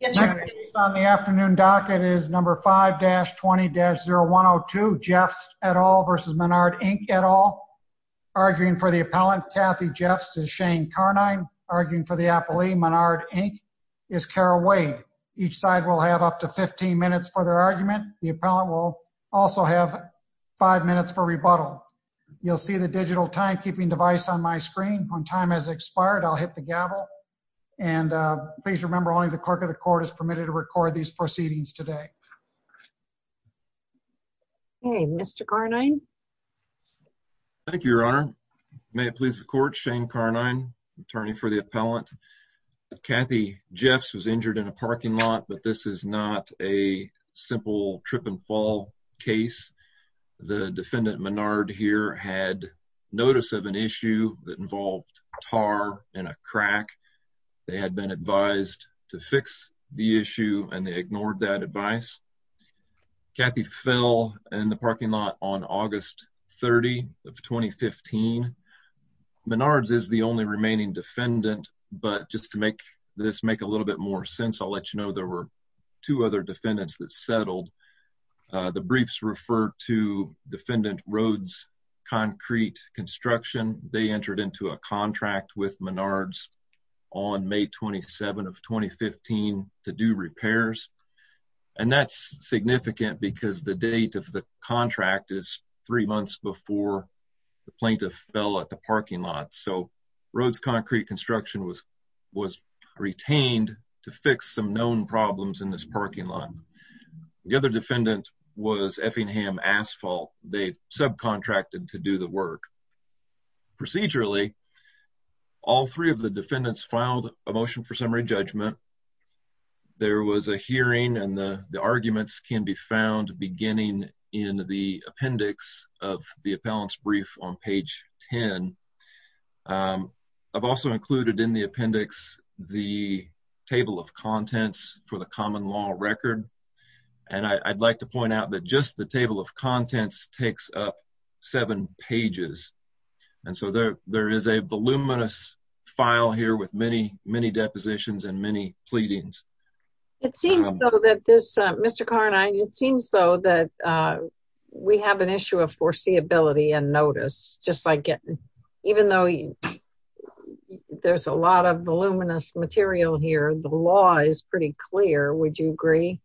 Next on the afternoon docket is number 5-20-0102, Jefts et al. v. Menard, Inc. et al. Arguing for the appellant, Kathy Jefts, is Shane Carnine. Arguing for the appellee, Menard, Inc., is Kara Wade. Each side will have up to 15 minutes for their argument. The appellant will also have 5 minutes for rebuttal. You'll see the digital timekeeping device on my screen. When time has expired, I'll hit the gavel. Please remember only the clerk of the court is permitted to record these proceedings today. Okay, Mr. Carnine. Thank you, Your Honor. May it please the court, Shane Carnine, attorney for the appellant. Kathy Jefts was injured in a parking lot, but this is not a simple trip and fall case. The defendant, Menard, here, had notice of an issue that involved tar in a crack. They had been advised to fix the issue, and they ignored that advice. Kathy fell in the parking lot on August 30, 2015. Menard is the only remaining defendant, but just to make this make a little bit more sense, I'll let you know there were two other defendants that settled. The briefs refer to defendant Rhodes Concrete Construction. They entered into a contract with Menard's on May 27, 2015, to do repairs. And that's significant because the date of the contract is three months before the plaintiff fell at the parking lot. So Rhodes Concrete Construction was retained to fix some known problems in this parking lot. The other defendant was Effingham Asphalt. They subcontracted to do the work. Procedurally, all three of the defendants filed a motion for summary judgment. There was a hearing, and the arguments can be found beginning in the appendix of the appellant's brief on page 10. I've also included in the appendix the table of contents for the common law record. And I'd like to point out that just the table of contents takes up seven pages. And so there is a voluminous file here with many, many depositions and many pleadings. It seems, though, that this, Mr. Carnine, it seems, though, that we have an issue of foreseeability and notice. Just like even though there's a lot of voluminous material here, the law is pretty clear. Would you agree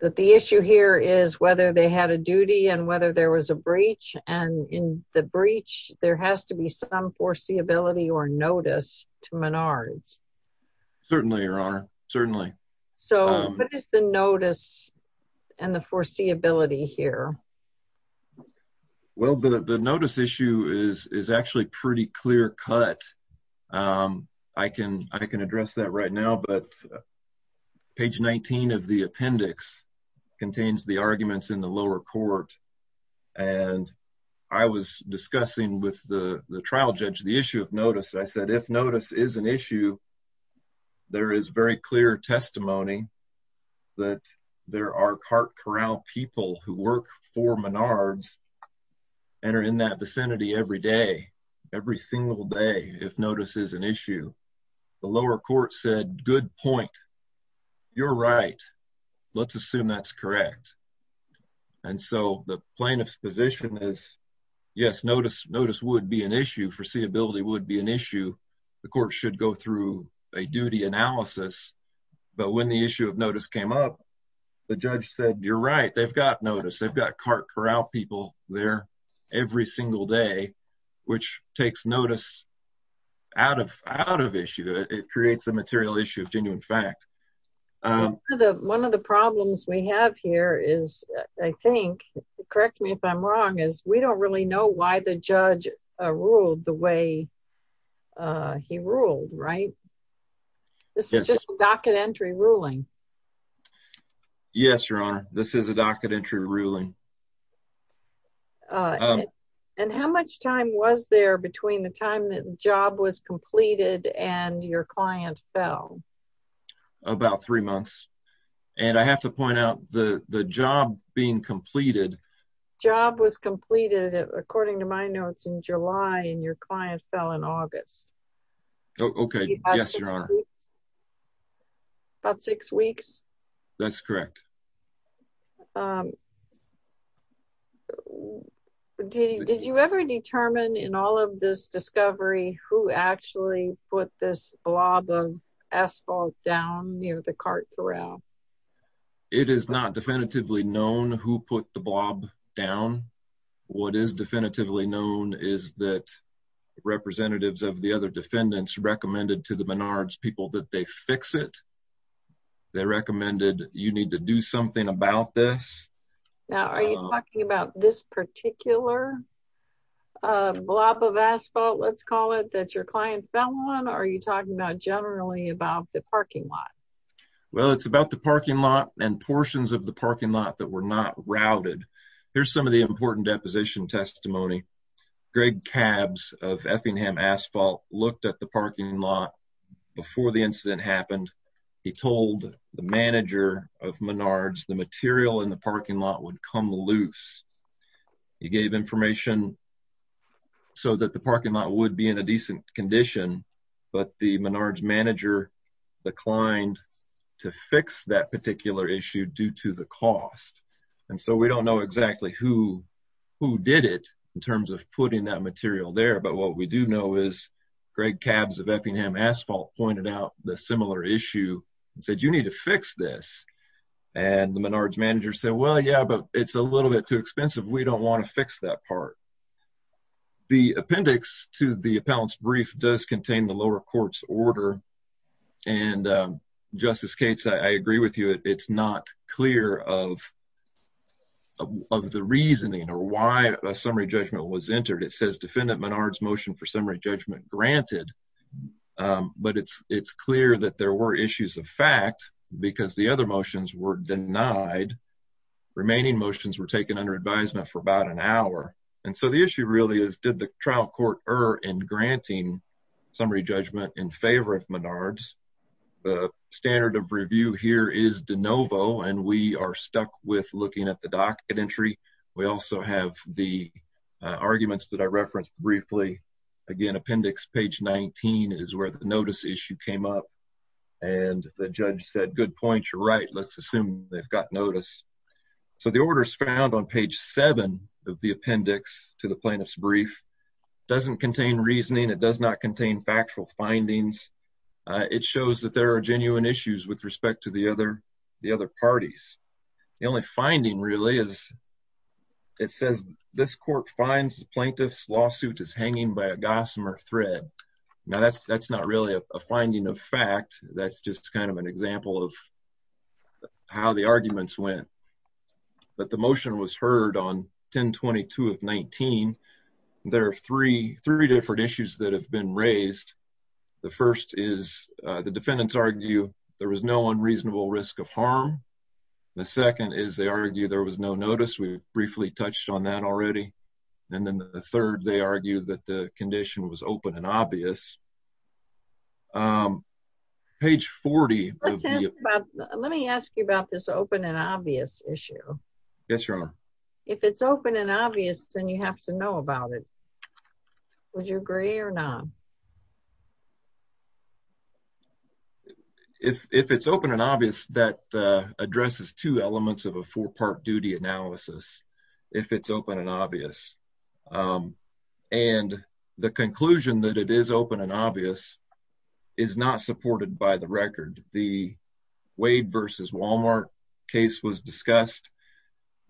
that the issue here is whether they had a duty and whether there was a breach? And in the breach, there has to be some foreseeability or notice to Menard's. Certainly, Your Honor, certainly. So what is the notice and the foreseeability here? Well, the notice issue is actually pretty clear cut. I can address that right now, but page 19 of the appendix contains the arguments in the lower court. And I was discussing with the trial judge the issue of notice. I said, if notice is an issue, there is very clear testimony that there are cart corral people who work for Menard's and are in that vicinity every day, every single day, if notice is an issue. The lower court said, good point. You're right. Let's assume that's correct. And so the plaintiff's position is, yes, notice would be an issue, foreseeability would be an issue. The court should go through a duty analysis. But when the issue of notice came up, the judge said, you're right, they've got notice. They've got cart corral people there every single day, which takes notice out of issue. It creates a material issue of genuine fact. One of the problems we have here is, I think, correct me if I'm wrong, is we don't really know why the judge ruled the way he ruled, right? This is just a docket entry ruling. Yes, you're on. This is a docket entry ruling. And how much time was there between the time that the job was completed and your client fell? About three months. And I have to point out the job being completed. Job was completed, according to my notes, in July and your client fell in August. Okay. Yes, Your Honor. About six weeks? That's correct. Did you ever determine in all of this discovery who actually put this blob of asphalt down near the cart corral? It is not definitively known who put the blob down. What is definitively known is that representatives of the other defendants recommended to the Menards people that they fix it. They recommended you need to do something about this. Now, are you talking about this particular blob of asphalt, let's call it, that your client fell on, or are you talking about generally about the parking lot? Well, it's about the parking lot and portions of the parking lot that were not routed. Here's some of the important deposition testimony. Greg Cabbs of Effingham Asphalt looked at the parking lot before the incident happened. He told the manager of Menards the material in the parking lot would come loose. He gave information so that the parking lot would be in a decent condition, but the Menards manager declined to fix that particular issue due to the cost. We don't know exactly who did it in terms of putting that material there, but what we do know is Greg Cabbs of Effingham Asphalt pointed out the similar issue and said, you need to fix this. The Menards manager said, well, yeah, but it's a little bit too expensive. We don't want to fix that part. The appendix to the appellant's brief does contain the lower court's order. Justice Cates, I agree with you. It's not clear of the reasoning or why a summary judgment was entered. It says, defendant Menards motion for summary judgment granted, but it's clear that there were issues of fact because the other motions were denied. Remaining motions were taken under advisement for about an hour. The issue really is, did the trial court err in granting summary judgment in favor of Menards? The standard of review here is de novo, and we are stuck with looking at the docket entry. We also have the arguments that I referenced briefly. Again, appendix page 19 is where the notice issue came up, and the judge said, good point, you're right, let's assume they've got notice. The orders found on page 7 of the appendix to the plaintiff's brief doesn't contain reasoning. It does not contain factual findings. It shows that there are genuine issues with respect to the other parties. The only finding really is it says, this court finds the plaintiff's lawsuit is hanging by a gossamer thread. Now, that's not really a finding of fact. That's just kind of an example of how the arguments went. But the motion was heard on 1022 of 19. There are three different issues that have been raised. The first is the defendants argue there was no unreasonable risk of harm. The second is they argue there was no notice. We briefly touched on that already. And then the third, they argue that the condition was open and obvious. Page 40. Let me ask you about this open and obvious issue. Yes, Your Honor. If it's open and obvious, then you have to know about it. Would you agree or not? If it's open and obvious, that addresses two elements of a four-part duty analysis, if it's open and obvious. And the conclusion that it is open and obvious is not supported by the record. The Wade versus Wal-Mart case was discussed,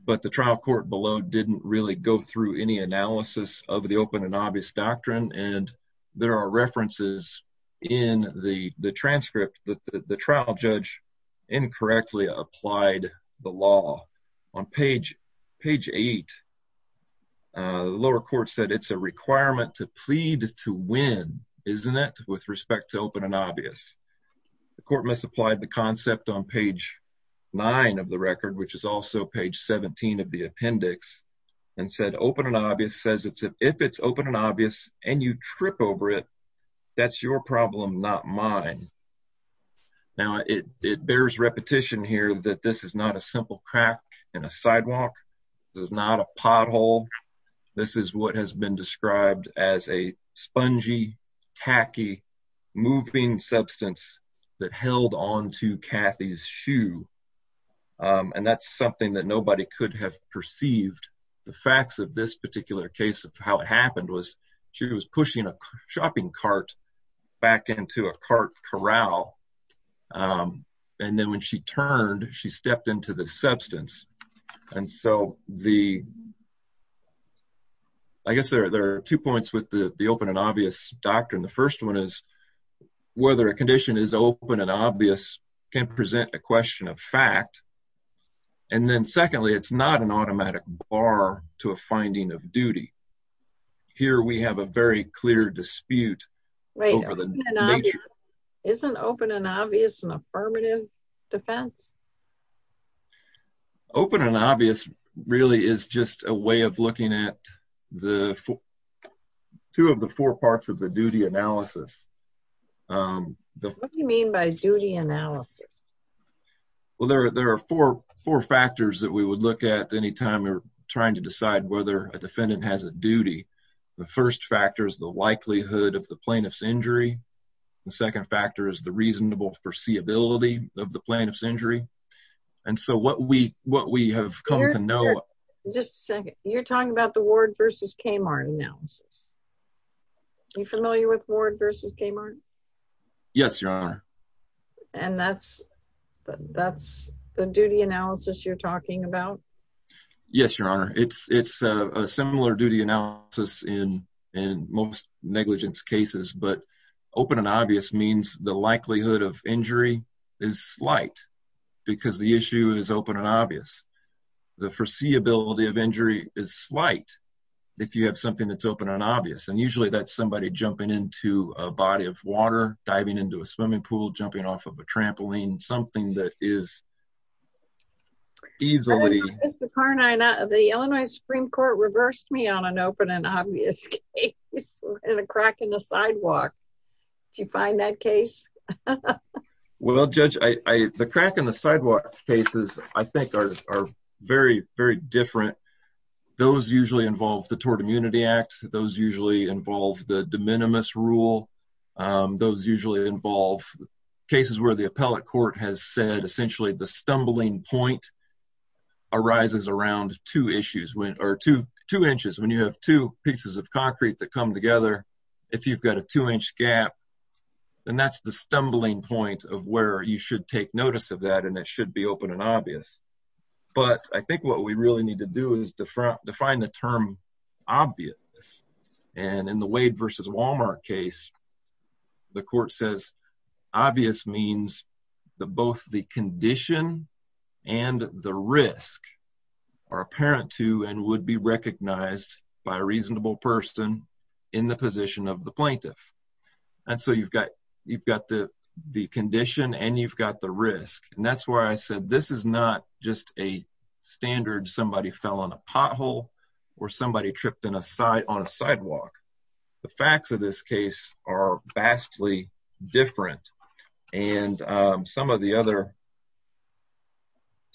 but the trial court below didn't really go through any analysis of the open and obvious doctrine. And there are references in the transcript that the trial judge incorrectly applied the law. On page 8, the lower court said it's a requirement to plead to win, isn't it, with respect to open and obvious. The court misapplied the concept on page 9 of the record, which is also page 17 of the appendix, and said open and obvious says if it's open and obvious and you trip over it, that's your problem, not mine. Now, it bears repetition here that this is not a simple crack in a sidewalk. This is not a pothole. This is what has been described as a spongy, tacky, moving substance that held on to Kathy's shoe. And that's something that nobody could have perceived. The facts of this particular case of how it happened was she was pushing a shopping cart back into a cart corral. And then when she turned, she stepped into the substance. And so, I guess there are two points with the open and obvious doctrine. The first one is whether a condition is open and obvious can present a question of fact. And then secondly, it's not an automatic bar to a finding of duty. Here we have a very clear dispute over the nature. Isn't open and obvious an affirmative defense? Open and obvious really is just a way of looking at two of the four parts of the duty analysis. What do you mean by duty analysis? Well, there are four factors that we would look at any time we're trying to decide whether a defendant has a duty. The first factor is the likelihood of the plaintiff's injury. The second factor is the reasonable foreseeability of the plaintiff's injury. And so, what we have come to know... Just a second. You're talking about the Ward v. Kmart analysis. Are you familiar with Ward v. Kmart? Yes, Your Honor. And that's the duty analysis you're talking about? Yes, Your Honor. It's a similar duty analysis in most negligence cases. But open and obvious means the likelihood of injury is slight because the issue is open and obvious. The foreseeability of injury is slight if you have something that's open and obvious. And usually that's somebody jumping into a body of water, diving into a swimming pool, jumping off of a trampoline. Something that is easily... Do you find that case? Well, Judge, the crack and the sidewalk cases, I think, are very, very different. Those usually involve the Tort Immunity Act. Those usually involve the de minimis rule. Those usually involve cases where the appellate court has said, essentially, the stumbling point arises around two issues. When you have two pieces of concrete that come together, if you've got a two-inch gap, then that's the stumbling point of where you should take notice of that and it should be open and obvious. But I think what we really need to do is define the term obvious. And in the Wade v. Walmart case, the court says obvious means that both the condition and the risk are apparent to and would be recognized by a reasonable person in the position of the plaintiff. And so you've got the condition and you've got the risk. And that's why I said this is not just a standard somebody fell on a pothole or somebody tripped on a sidewalk. The facts of this case are vastly different. And some of the other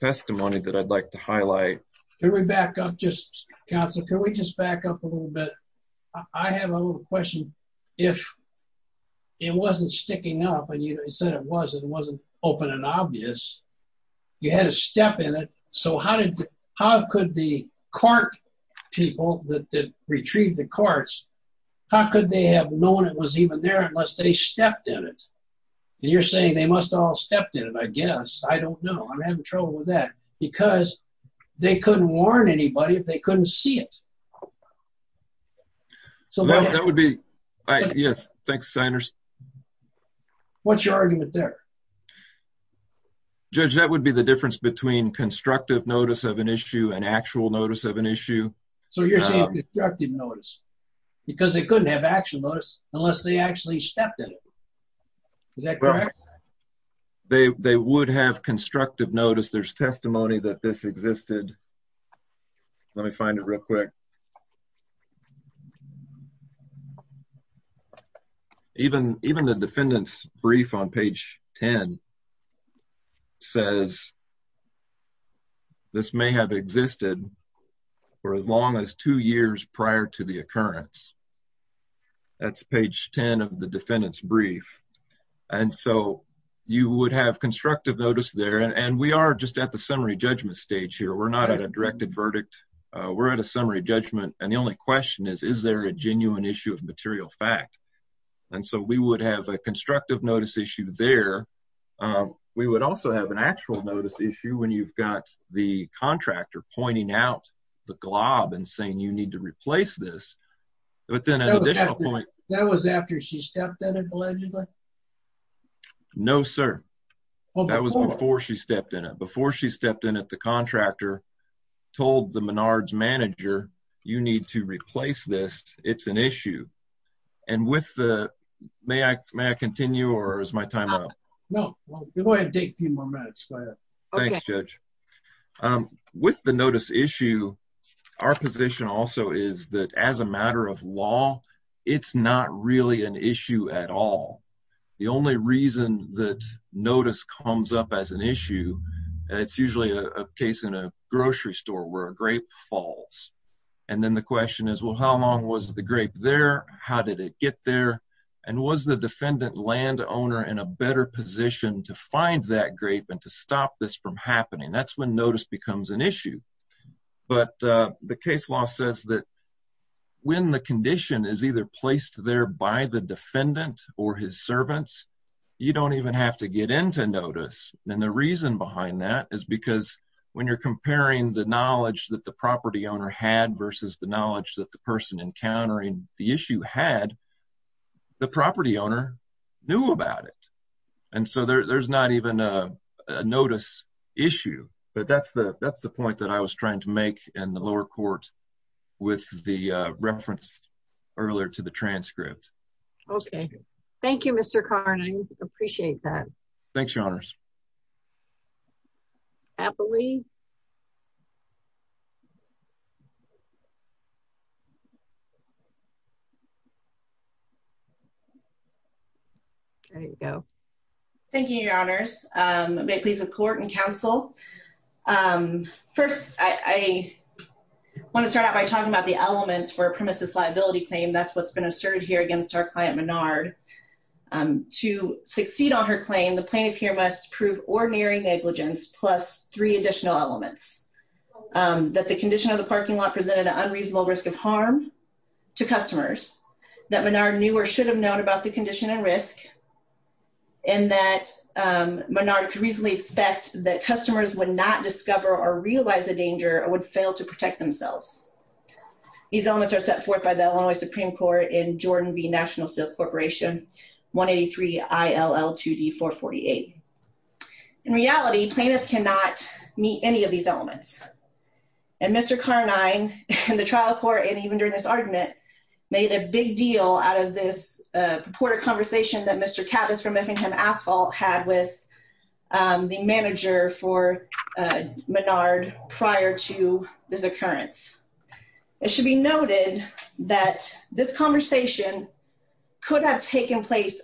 testimony that I'd like to highlight... Can we back up just, counsel? Can we just back up a little bit? I have a little question. If it wasn't sticking up and you said it wasn't, it wasn't open and obvious, you had to step in it. So how could the court people that did retrieve the courts, how could they have known it was even there unless they stepped in it? And you're saying they must have all stepped in it, I guess. I don't know. I'm having trouble with that. Because they couldn't warn anybody if they couldn't see it. So that would be... Yes. Thanks, Senator. What's your argument there? Judge, that would be the difference between constructive notice of an issue and actual notice of an issue. So you're saying constructive notice because they couldn't have actual notice unless they actually stepped in it. Is that correct? They would have constructive notice. There's testimony that this existed. Let me find it real quick. Even the defendant's brief on page 10 says this may have existed for as long as two years prior to the occurrence. That's page 10 of the defendant's brief. And so you would have constructive notice there. And we are just at the summary judgment stage here. We're not at a directed verdict. We're at a summary judgment. And the only question is, is there a genuine issue of material fact? And so we would have a constructive notice issue there. We would also have an actual notice issue when you've got the contractor pointing out the glob and saying you need to replace this. That was after she stepped in it, allegedly? No, sir. That was before she stepped in it. Before she stepped in it, the contractor told the Menards manager, you need to replace this. It's an issue. And with the may I may I continue or is my time up? No, go ahead. Take a few more minutes. Thanks, Judge. With the notice issue, our position also is that as a matter of law, it's not really an issue at all. The only reason that notice comes up as an issue, it's usually a case in a grocery store where a grape falls. And then the question is, well, how long was the grape there? How did it get there? And was the defendant land owner in a better position to find that grape and to stop this from happening? That's when notice becomes an issue. But the case law says that when the condition is either placed there by the defendant or his servants, you don't even have to get into notice. And the reason behind that is because when you're comparing the knowledge that the property owner had versus the knowledge that the person encountering the issue had, the property owner knew about it. And so there's not even a notice issue. But that's the that's the point that I was trying to make in the lower court with the reference earlier to the transcript. OK. Thank you, Mr. Carney. Appreciate that. Thanks, Your Honors. I believe. There you go. Thank you, Your Honors. May it please the court and counsel. First, I want to start out by talking about the elements for a premises liability claim. That's what's been asserted here against our client, Menard. To succeed on her claim, the plaintiff here must prove ordinary negligence plus three additional elements that the condition of the parking lot presented an unreasonable risk of harm to customers. That Menard knew or should have known about the condition and risk. And that Menard could reasonably expect that customers would not discover or realize the danger or would fail to protect themselves. These elements are set forth by the Illinois Supreme Court in Jordan v. National Silk Corporation 183 ILL 2D 448. In reality, plaintiff cannot meet any of these elements. And Mr. Carney, in the trial court and even during this argument, made a big deal out of this purported conversation that Mr. Cabas from Effingham Asphalt had with the manager for Menard prior to this occurrence. It should be noted that this conversation could have taken place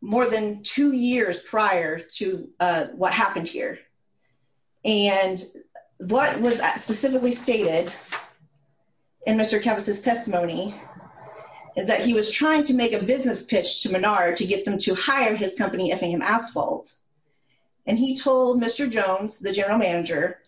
more than two years prior to what happened here. And what was specifically stated in Mr. Cabas' testimony is that he was trying to make a business pitch to Menard to get them to hire his company, Effingham Asphalt. And he told Mr. Jones, the general manager,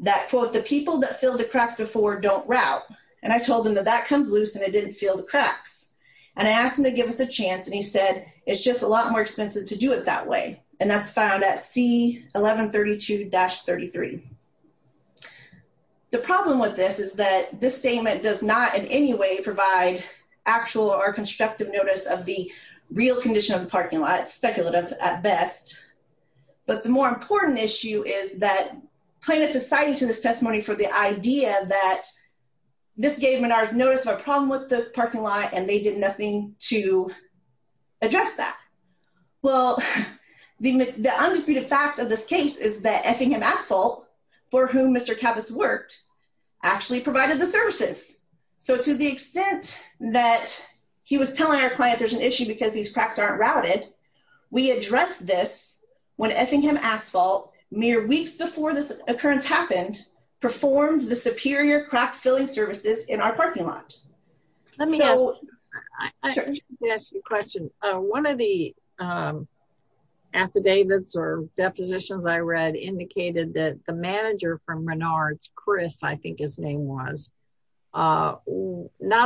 that, quote, the people that filled the cracks before don't route. And I told him that that comes loose and it didn't fill the cracks. And I asked him to give us a chance and he said, it's just a lot more expensive to do it that way. And that's found at C1132-33. The problem with this is that this statement does not in any way provide actual or constructive notice of the real condition of the parking lot, speculative at best. But the more important issue is that plaintiff is citing to this testimony for the idea that this gave Menard's notice of a problem with the parking lot and they did nothing to address that. Well, the undisputed facts of this case is that Effingham Asphalt, for whom Mr. Cabas worked, actually provided the services. So to the extent that he was telling our client there's an issue because these cracks aren't routed, we addressed this when Effingham Asphalt, mere weeks before this occurrence happened, performed the superior crack-filling services in our parking lot. Let me ask you a question. One of the affidavits or depositions I read indicated that the manager from Menard's, Chris, I think his name was, not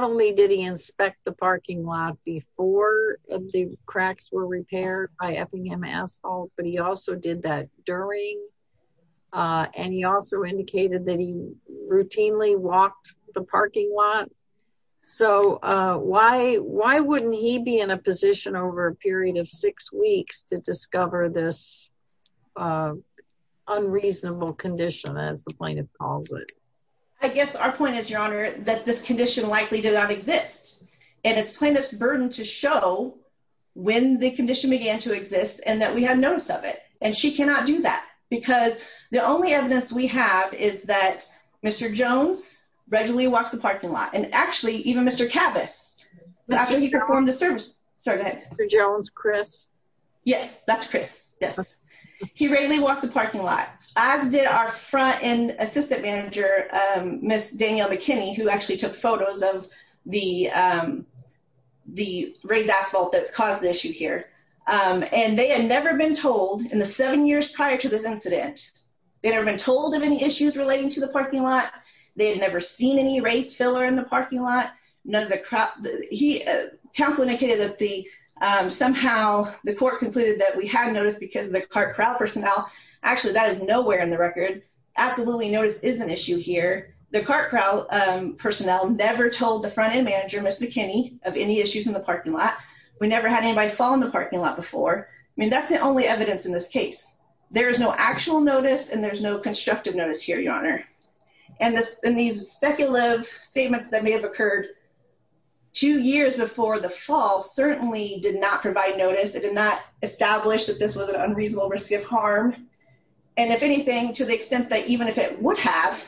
only did he inspect the parking lot before the cracks were repaired by Effingham Asphalt, but he also did that during. And he also indicated that he routinely walked the parking lot. So why wouldn't he be in a position over a period of six weeks to discover this unreasonable condition, as the plaintiff calls it? I guess our point is, Your Honor, that this condition likely did not exist. And it's plaintiff's burden to show when the condition began to exist and that we had notice of it. And she cannot do that. Because the only evidence we have is that Mr. Jones regularly walked the parking lot. And actually, even Mr. Cabas, after he performed the service. Sorry, go ahead. Mr. Jones, Chris. Yes, that's Chris. Yes. He regularly walked the parking lot, as did our front-end assistant manager, Ms. Danielle McKinney, who actually took photos of the raised asphalt that caused the issue here. And they had never been told in the seven years prior to this incident. They had never been told of any issues relating to the parking lot. They had never seen any raised filler in the parking lot. Counsel indicated that somehow the court concluded that we had notice because of the cart crowd personnel. Actually, that is nowhere in the record. Absolutely, notice is an issue here. The cart crowd personnel never told the front-end manager, Ms. McKinney, of any issues in the parking lot. We never had anybody fall in the parking lot before. I mean, that's the only evidence in this case. There is no actual notice, and there's no constructive notice here, Your Honor. And these speculative statements that may have occurred two years before the fall certainly did not provide notice. It did not establish that this was an unreasonable risk of harm. And if anything, to the extent that even if it would have,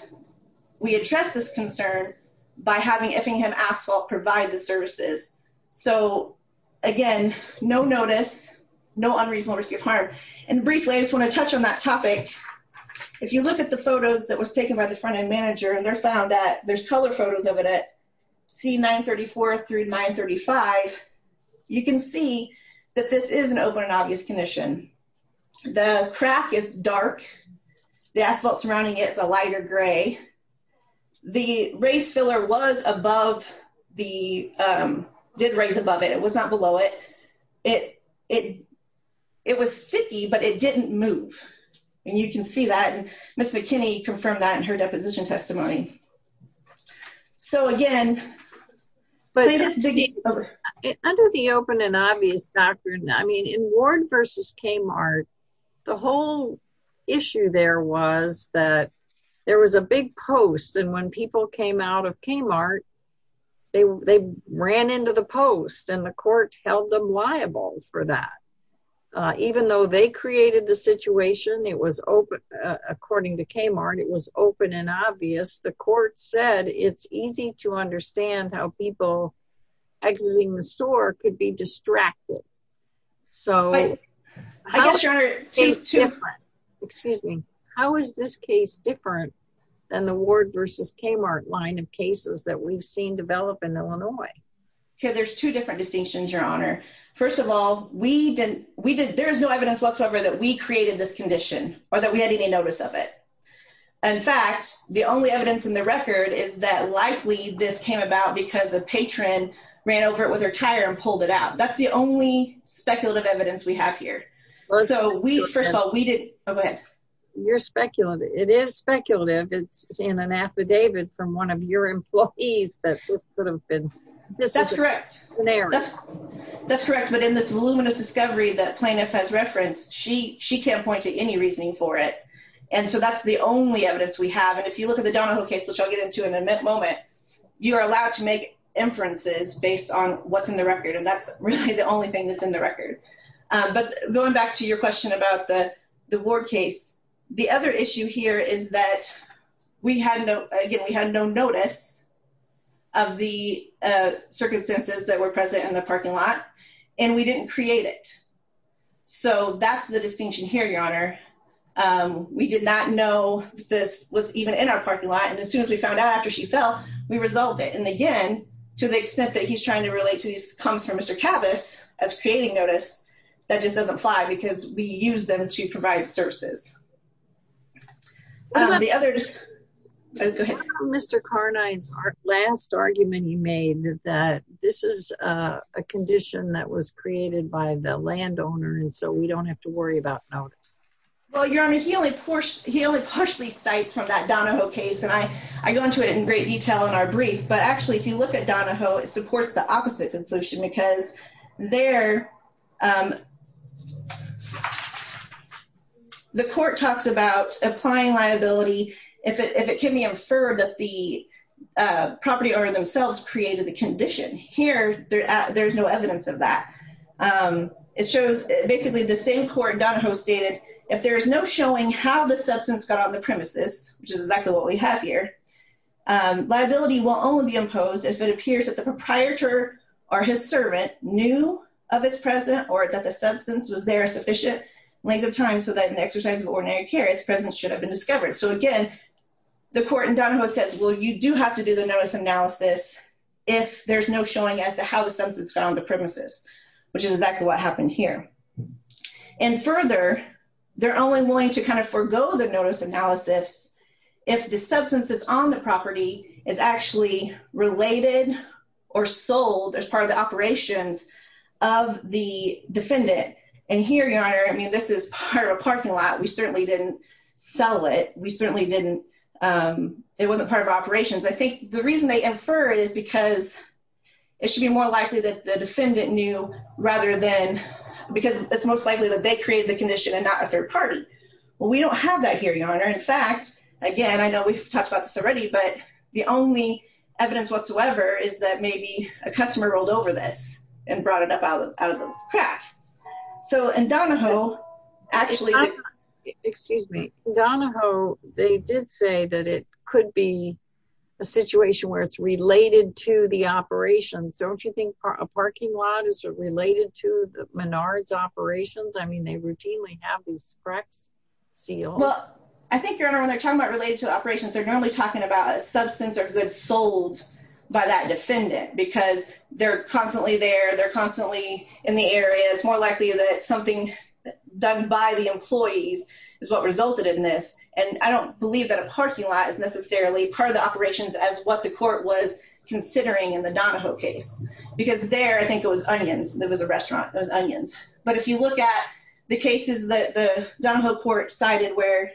we addressed this concern by having Effingham Asphalt provide the services. So, again, no notice, no unreasonable risk of harm. And briefly, I just want to touch on that topic. If you look at the photos that was taken by the front-end manager, and they're found at – there's color photos of it at C934 through 935. You can see that this is an open and obvious condition. The crack is dark. The asphalt surrounding it is a lighter gray. The raised filler was above the – did raise above it. It was not below it. It was sticky, but it didn't move. And you can see that. And Ms. McKinney confirmed that in her deposition testimony. So, again – Under the open and obvious doctrine, I mean, in Ward v. Kmart, the whole issue there was that there was a big post. And when people came out of Kmart, they ran into the post, and the court held them liable for that. Even though they created the situation, it was – according to Kmart, it was open and obvious. The court said it's easy to understand how people exiting the store could be distracted. So – I guess, Your Honor – Excuse me. How is this case different than the Ward v. Kmart line of cases that we've seen develop in Illinois? There's two different distinctions, Your Honor. First of all, we didn't – we didn't – there is no evidence whatsoever that we created this condition or that we had any notice of it. In fact, the only evidence in the record is that likely this came about because a patron ran over it with her tire and pulled it out. That's the only speculative evidence we have here. So, we – first of all, we didn't – go ahead. You're speculating. It is speculative. It's in an affidavit from one of your employees that this could have been necessary. That's correct. That's correct. But in this voluminous discovery that plaintiff has referenced, she can't point to any reasoning for it. And so that's the only evidence we have. And if you look at the Donahoe case, which I'll get into in a moment, you are allowed to make inferences based on what's in the record. And that's really the only thing that's in the record. But going back to your question about the Ward case, the other issue here is that we had no – again, we had no notice of the circumstances that were present in the parking lot. And we didn't create it. So, that's the distinction here, Your Honor. We did not know that this was even in our parking lot. And as soon as we found out after she fell, we resolved it. And again, to the extent that he's trying to relate to these comments from Mr. Kavis as creating notice, that just doesn't apply because we used them to provide services. What about Mr. Carnine's last argument he made that this is a condition that was created by the landowner and so we don't have to worry about notice? Well, Your Honor, he only partially cites from that Donahoe case. And I go into it in great detail in our brief. But actually, if you look at Donahoe, it supports the opposite conclusion because there – the court talks about applying liability if it can be inferred that the property owner themselves created the condition. Here, there's no evidence of that. It shows basically the same court Donahoe stated, if there's no showing how the substance got on the premises, which is exactly what we have here, liability will only be imposed if it appears that the proprietor or his servant knew of its presence or that the substance was there a sufficient length of time so that in the exercise of ordinary care, its presence should have been discovered. So, again, the court in Donahoe says, well, you do have to do the notice analysis if there's no showing as to how the substance got on the premises. Which is exactly what happened here. And further, they're only willing to kind of forego the notice analysis if the substance that's on the property is actually related or sold as part of the operations of the defendant. And here, Your Honor, I mean, this is part of a parking lot. We certainly didn't sell it. We certainly didn't – it wasn't part of our operations. I think the reason they infer is because it should be more likely that the defendant knew rather than – because it's most likely that they created the condition and not a third party. Well, we don't have that here, Your Honor. In fact, again, I know we've talked about this already, but the only evidence whatsoever is that maybe a customer rolled over this and brought it up out of the crack. So, in Donahoe, actually – Excuse me. In Donahoe, they did say that it could be a situation where it's related to the operations. Don't you think a parking lot is related to the Menard's operations? I mean, they routinely have these cracks sealed. Well, I think, Your Honor, when they're talking about related to the operations, they're normally talking about a substance or goods sold by that defendant. Because they're constantly there. They're constantly in the area. It's more likely that something done by the employees is what resulted in this. And I don't believe that a parking lot is necessarily part of the operations as what the court was considering in the Donahoe case. Because there, I think it was onions. It was a restaurant. It was onions. But if you look at the cases that the Donahoe court cited where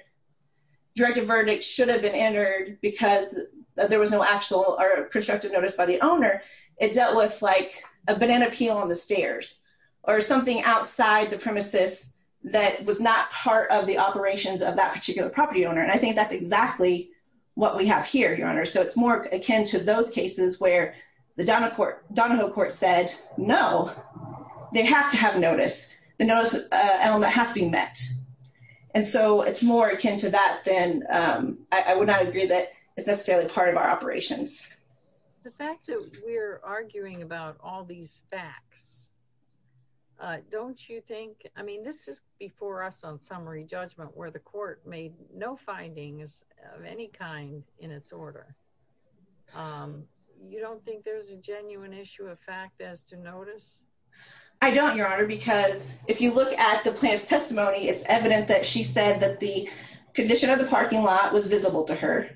directive verdict should have been entered because there was no actual or constructive notice by the owner, it dealt with, like, a banana peel on the stairs. Or something outside the premises that was not part of the operations of that particular property owner. And I think that's exactly what we have here, Your Honor. So it's more akin to those cases where the Donahoe court said, no, they have to have notice. The notice element has to be met. And so it's more akin to that than I would not agree that it's necessarily part of our operations. The fact that we're arguing about all these facts. Don't you think I mean this is before us on summary judgment where the court made no findings of any kind in its order. You don't think there's a genuine issue of fact as to notice. I don't, Your Honor, because if you look at the plaintiff's testimony, it's evident that she said that the condition of the parking lot was visible to her.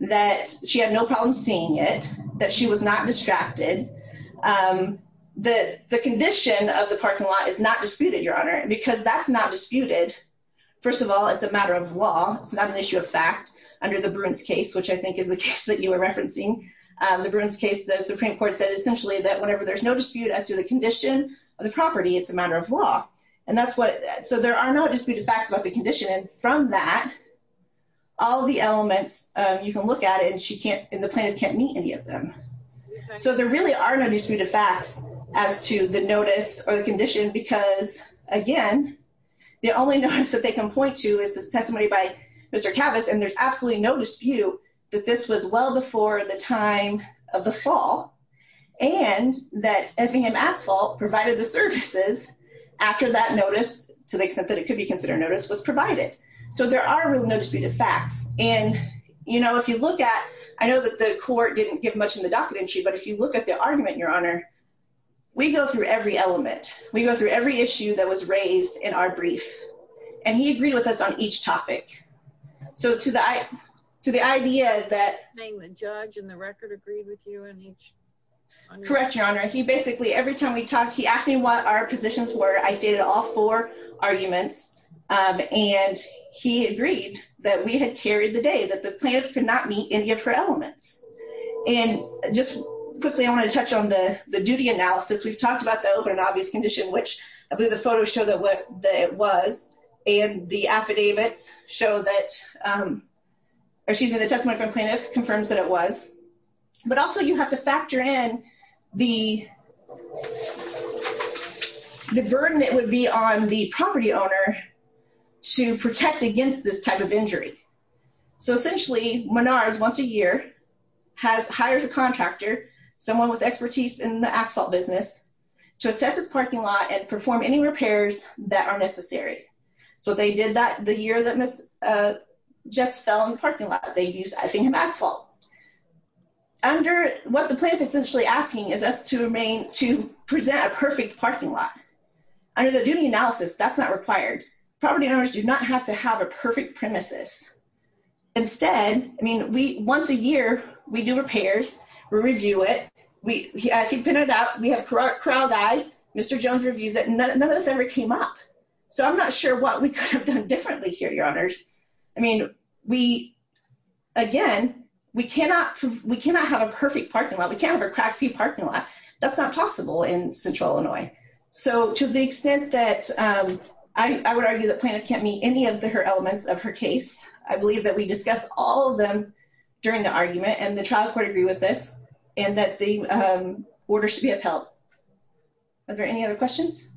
That she had no problem seeing it. That she was not distracted. The condition of the parking lot is not disputed, Your Honor, because that's not disputed. First of all, it's a matter of law. It's not an issue of fact under the Bruins case, which I think is the case that you were referencing. The Bruins case, the Supreme Court said essentially that whenever there's no dispute as to the condition of the property, it's a matter of law. And that's what, so there are no disputed facts about the condition. And from that, all the elements you can look at it and she can't, and the plaintiff can't meet any of them. So there really are no disputed facts as to the notice or the condition. Because, again, the only notice that they can point to is the testimony by Mr. Cavus. And there's absolutely no dispute that this was well before the time of the fall. And that Effingham Asphalt provided the services after that notice, to the extent that it could be considered a notice, was provided. So there are really no disputed facts. And, you know, if you look at, I know that the court didn't give much in the docket entry. But if you look at the argument, Your Honor, we go through every element. We go through every issue that was raised in our brief. And he agreed with us on each topic. So to the idea that the judge and the record agreed with you in each. Correct, Your Honor. He basically every time we talked, he asked me what our positions were. I stated all four arguments. And he agreed that we had carried the day that the plaintiff could not meet any of her elements. And just quickly, I want to touch on the duty analysis. We've talked about the open and obvious condition, which I believe the photos show that it was. And the affidavits show that, or excuse me, the testimony from plaintiff confirms that it was. But also you have to factor in the burden that would be on the property owner to protect against this type of injury. So essentially, Menards, once a year, hires a contractor, someone with expertise in the asphalt business, to assess his parking lot and perform any repairs that are necessary. So they did that the year that Jess fell in the parking lot. They used I-50 asphalt. Under what the plaintiff is essentially asking is us to present a perfect parking lot. Under the duty analysis, that's not required. Property owners do not have to have a perfect premises. Instead, I mean, once a year, we do repairs. We review it. As he pointed out, we have corral guys. Mr. Jones reviews it. None of this ever came up. So I'm not sure what we could have done differently here, Your Honors. I mean, again, we cannot have a perfect parking lot. We can't have a crack-free parking lot. That's not possible in Central Illinois. So to the extent that I would argue that plaintiff can't meet any of the elements of her case, I believe that we discussed all of them during the argument, and the trial court agreed with this, and that the order should be upheld. Are there any other questions?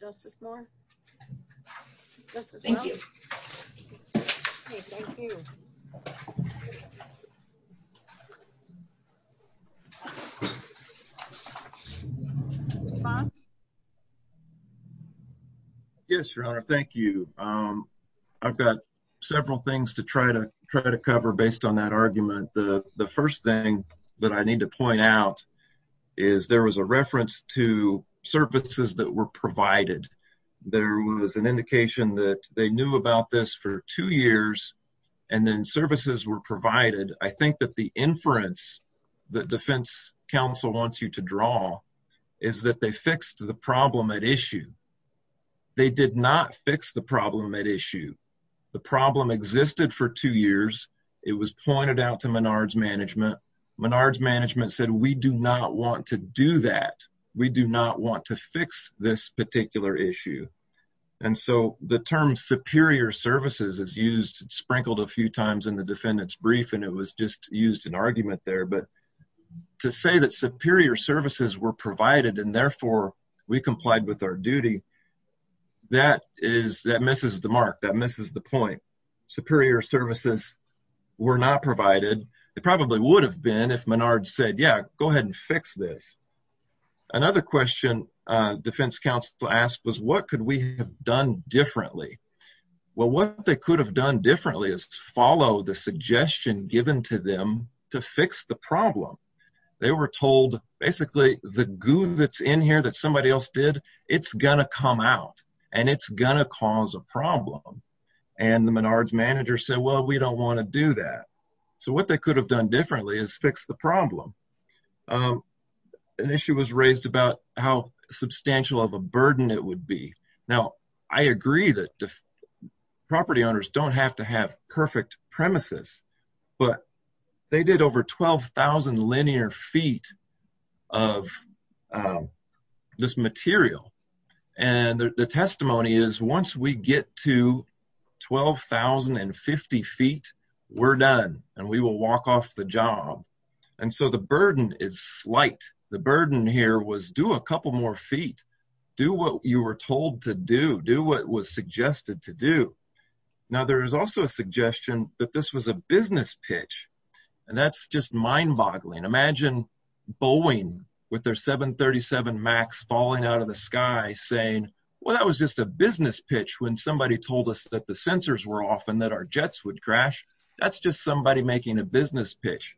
Justice Moore? Thank you. Thank you. Yes, Your Honor, thank you. I've got several things to try to cover based on that argument. The first thing that I need to point out is there was a reference to services that were provided. There was an indication that they knew about this for two years, and then services were provided. I think that the inference that defense counsel wants you to draw is that they fixed the problem at issue. They did not fix the problem at issue. The problem existed for two years. It was pointed out to Menard's management. Menard's management said, we do not want to do that. We do not want to fix this particular issue. And so the term superior services is used, sprinkled a few times in the defendant's brief, and it was just used in argument there. But to say that superior services were provided and, therefore, we complied with our duty, that misses the mark. That misses the point. Superior services were not provided. It probably would have been if Menard said, yeah, go ahead and fix this. Another question defense counsel asked was, what could we have done differently? Well, what they could have done differently is follow the suggestion given to them to fix the problem. They were told, basically, the goo that's in here that somebody else did, it's going to come out, and it's going to cause a problem. And the Menard's manager said, well, we don't want to do that. So what they could have done differently is fix the problem. An issue was raised about how substantial of a burden it would be. Now, I agree that property owners don't have to have perfect premises, but they did over 12,000 linear feet of this material. And the testimony is, once we get to 12,050 feet, we're done, and we will walk off the job. And so the burden is slight. The burden here was do a couple more feet. Do what you were told to do. Do what was suggested to do. Now, there is also a suggestion that this was a business pitch, and that's just mind-boggling. Imagine Boeing with their 737 MAX falling out of the sky saying, well, that was just a business pitch when somebody told us that the sensors were off and that our jets would crash. That's just somebody making a business pitch.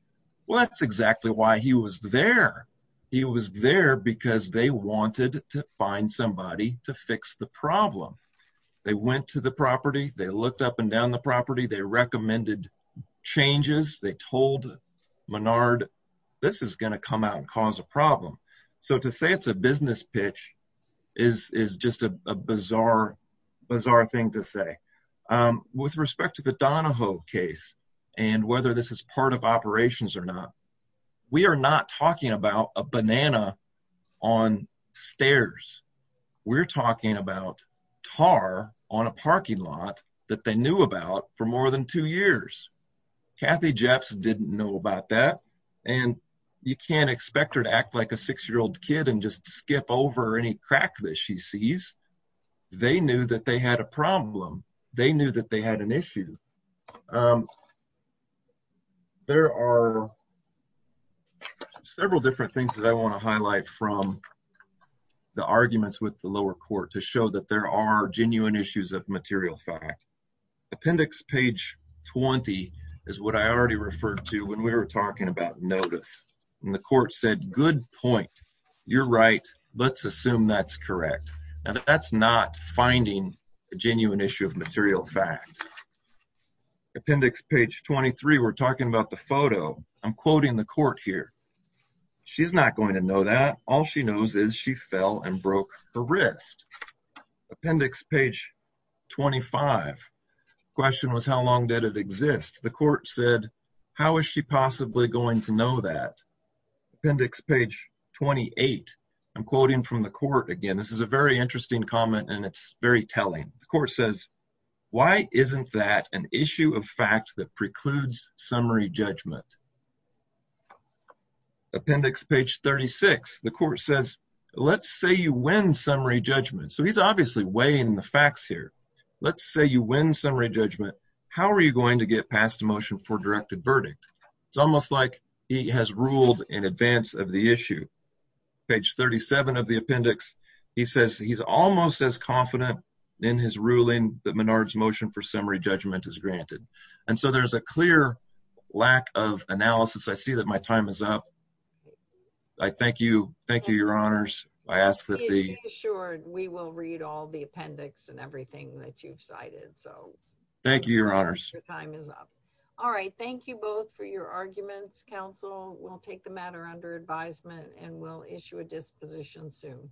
Well, that's exactly why he was there. He was there because they wanted to find somebody to fix the problem. They went to the property. They looked up and down the property. They recommended changes. They told Menard, this is going to come out and cause a problem. So to say it's a business pitch is just a bizarre, bizarre thing to say. With respect to the Donahoe case and whether this is part of operations or not, we are not talking about a banana on stairs. We're talking about tar on a parking lot that they knew about for more than two years. Kathy Jeffs didn't know about that, and you can't expect her to act like a 6-year-old kid and just skip over any crack that she sees. They knew that they had a problem. They knew that they had an issue. There are several different things that I want to highlight from the arguments with the lower court to show that there are genuine issues of material fact. Appendix page 20 is what I already referred to when we were talking about notice. And the court said, good point. You're right. Let's assume that's correct. Now, that's not finding a genuine issue of material fact. Appendix page 23, we're talking about the photo. I'm quoting the court here. She's not going to know that. All she knows is she fell and broke her wrist. Appendix page 25, question was how long did it exist? The court said, how is she possibly going to know that? Appendix page 28, I'm quoting from the court again. This is a very interesting comment, and it's very telling. The court says, why isn't that an issue of fact that precludes summary judgment? Appendix page 36, the court says, let's say you win summary judgment. So he's obviously weighing the facts here. Let's say you win summary judgment. How are you going to get passed a motion for directed verdict? It's almost like he has ruled in advance of the issue. Page 37 of the appendix, he says he's almost as confident in his ruling that Menard's motion for summary judgment is granted. And so there's a clear lack of analysis. I see that my time is up. I thank you. Thank you, Your Honors. I ask that the – Be assured, we will read all the appendix and everything that you've cited. Thank you, Your Honors. Your time is up. All right, thank you both for your arguments. This concludes counsel. We'll take the matter under advisement and we'll issue a disposition soon.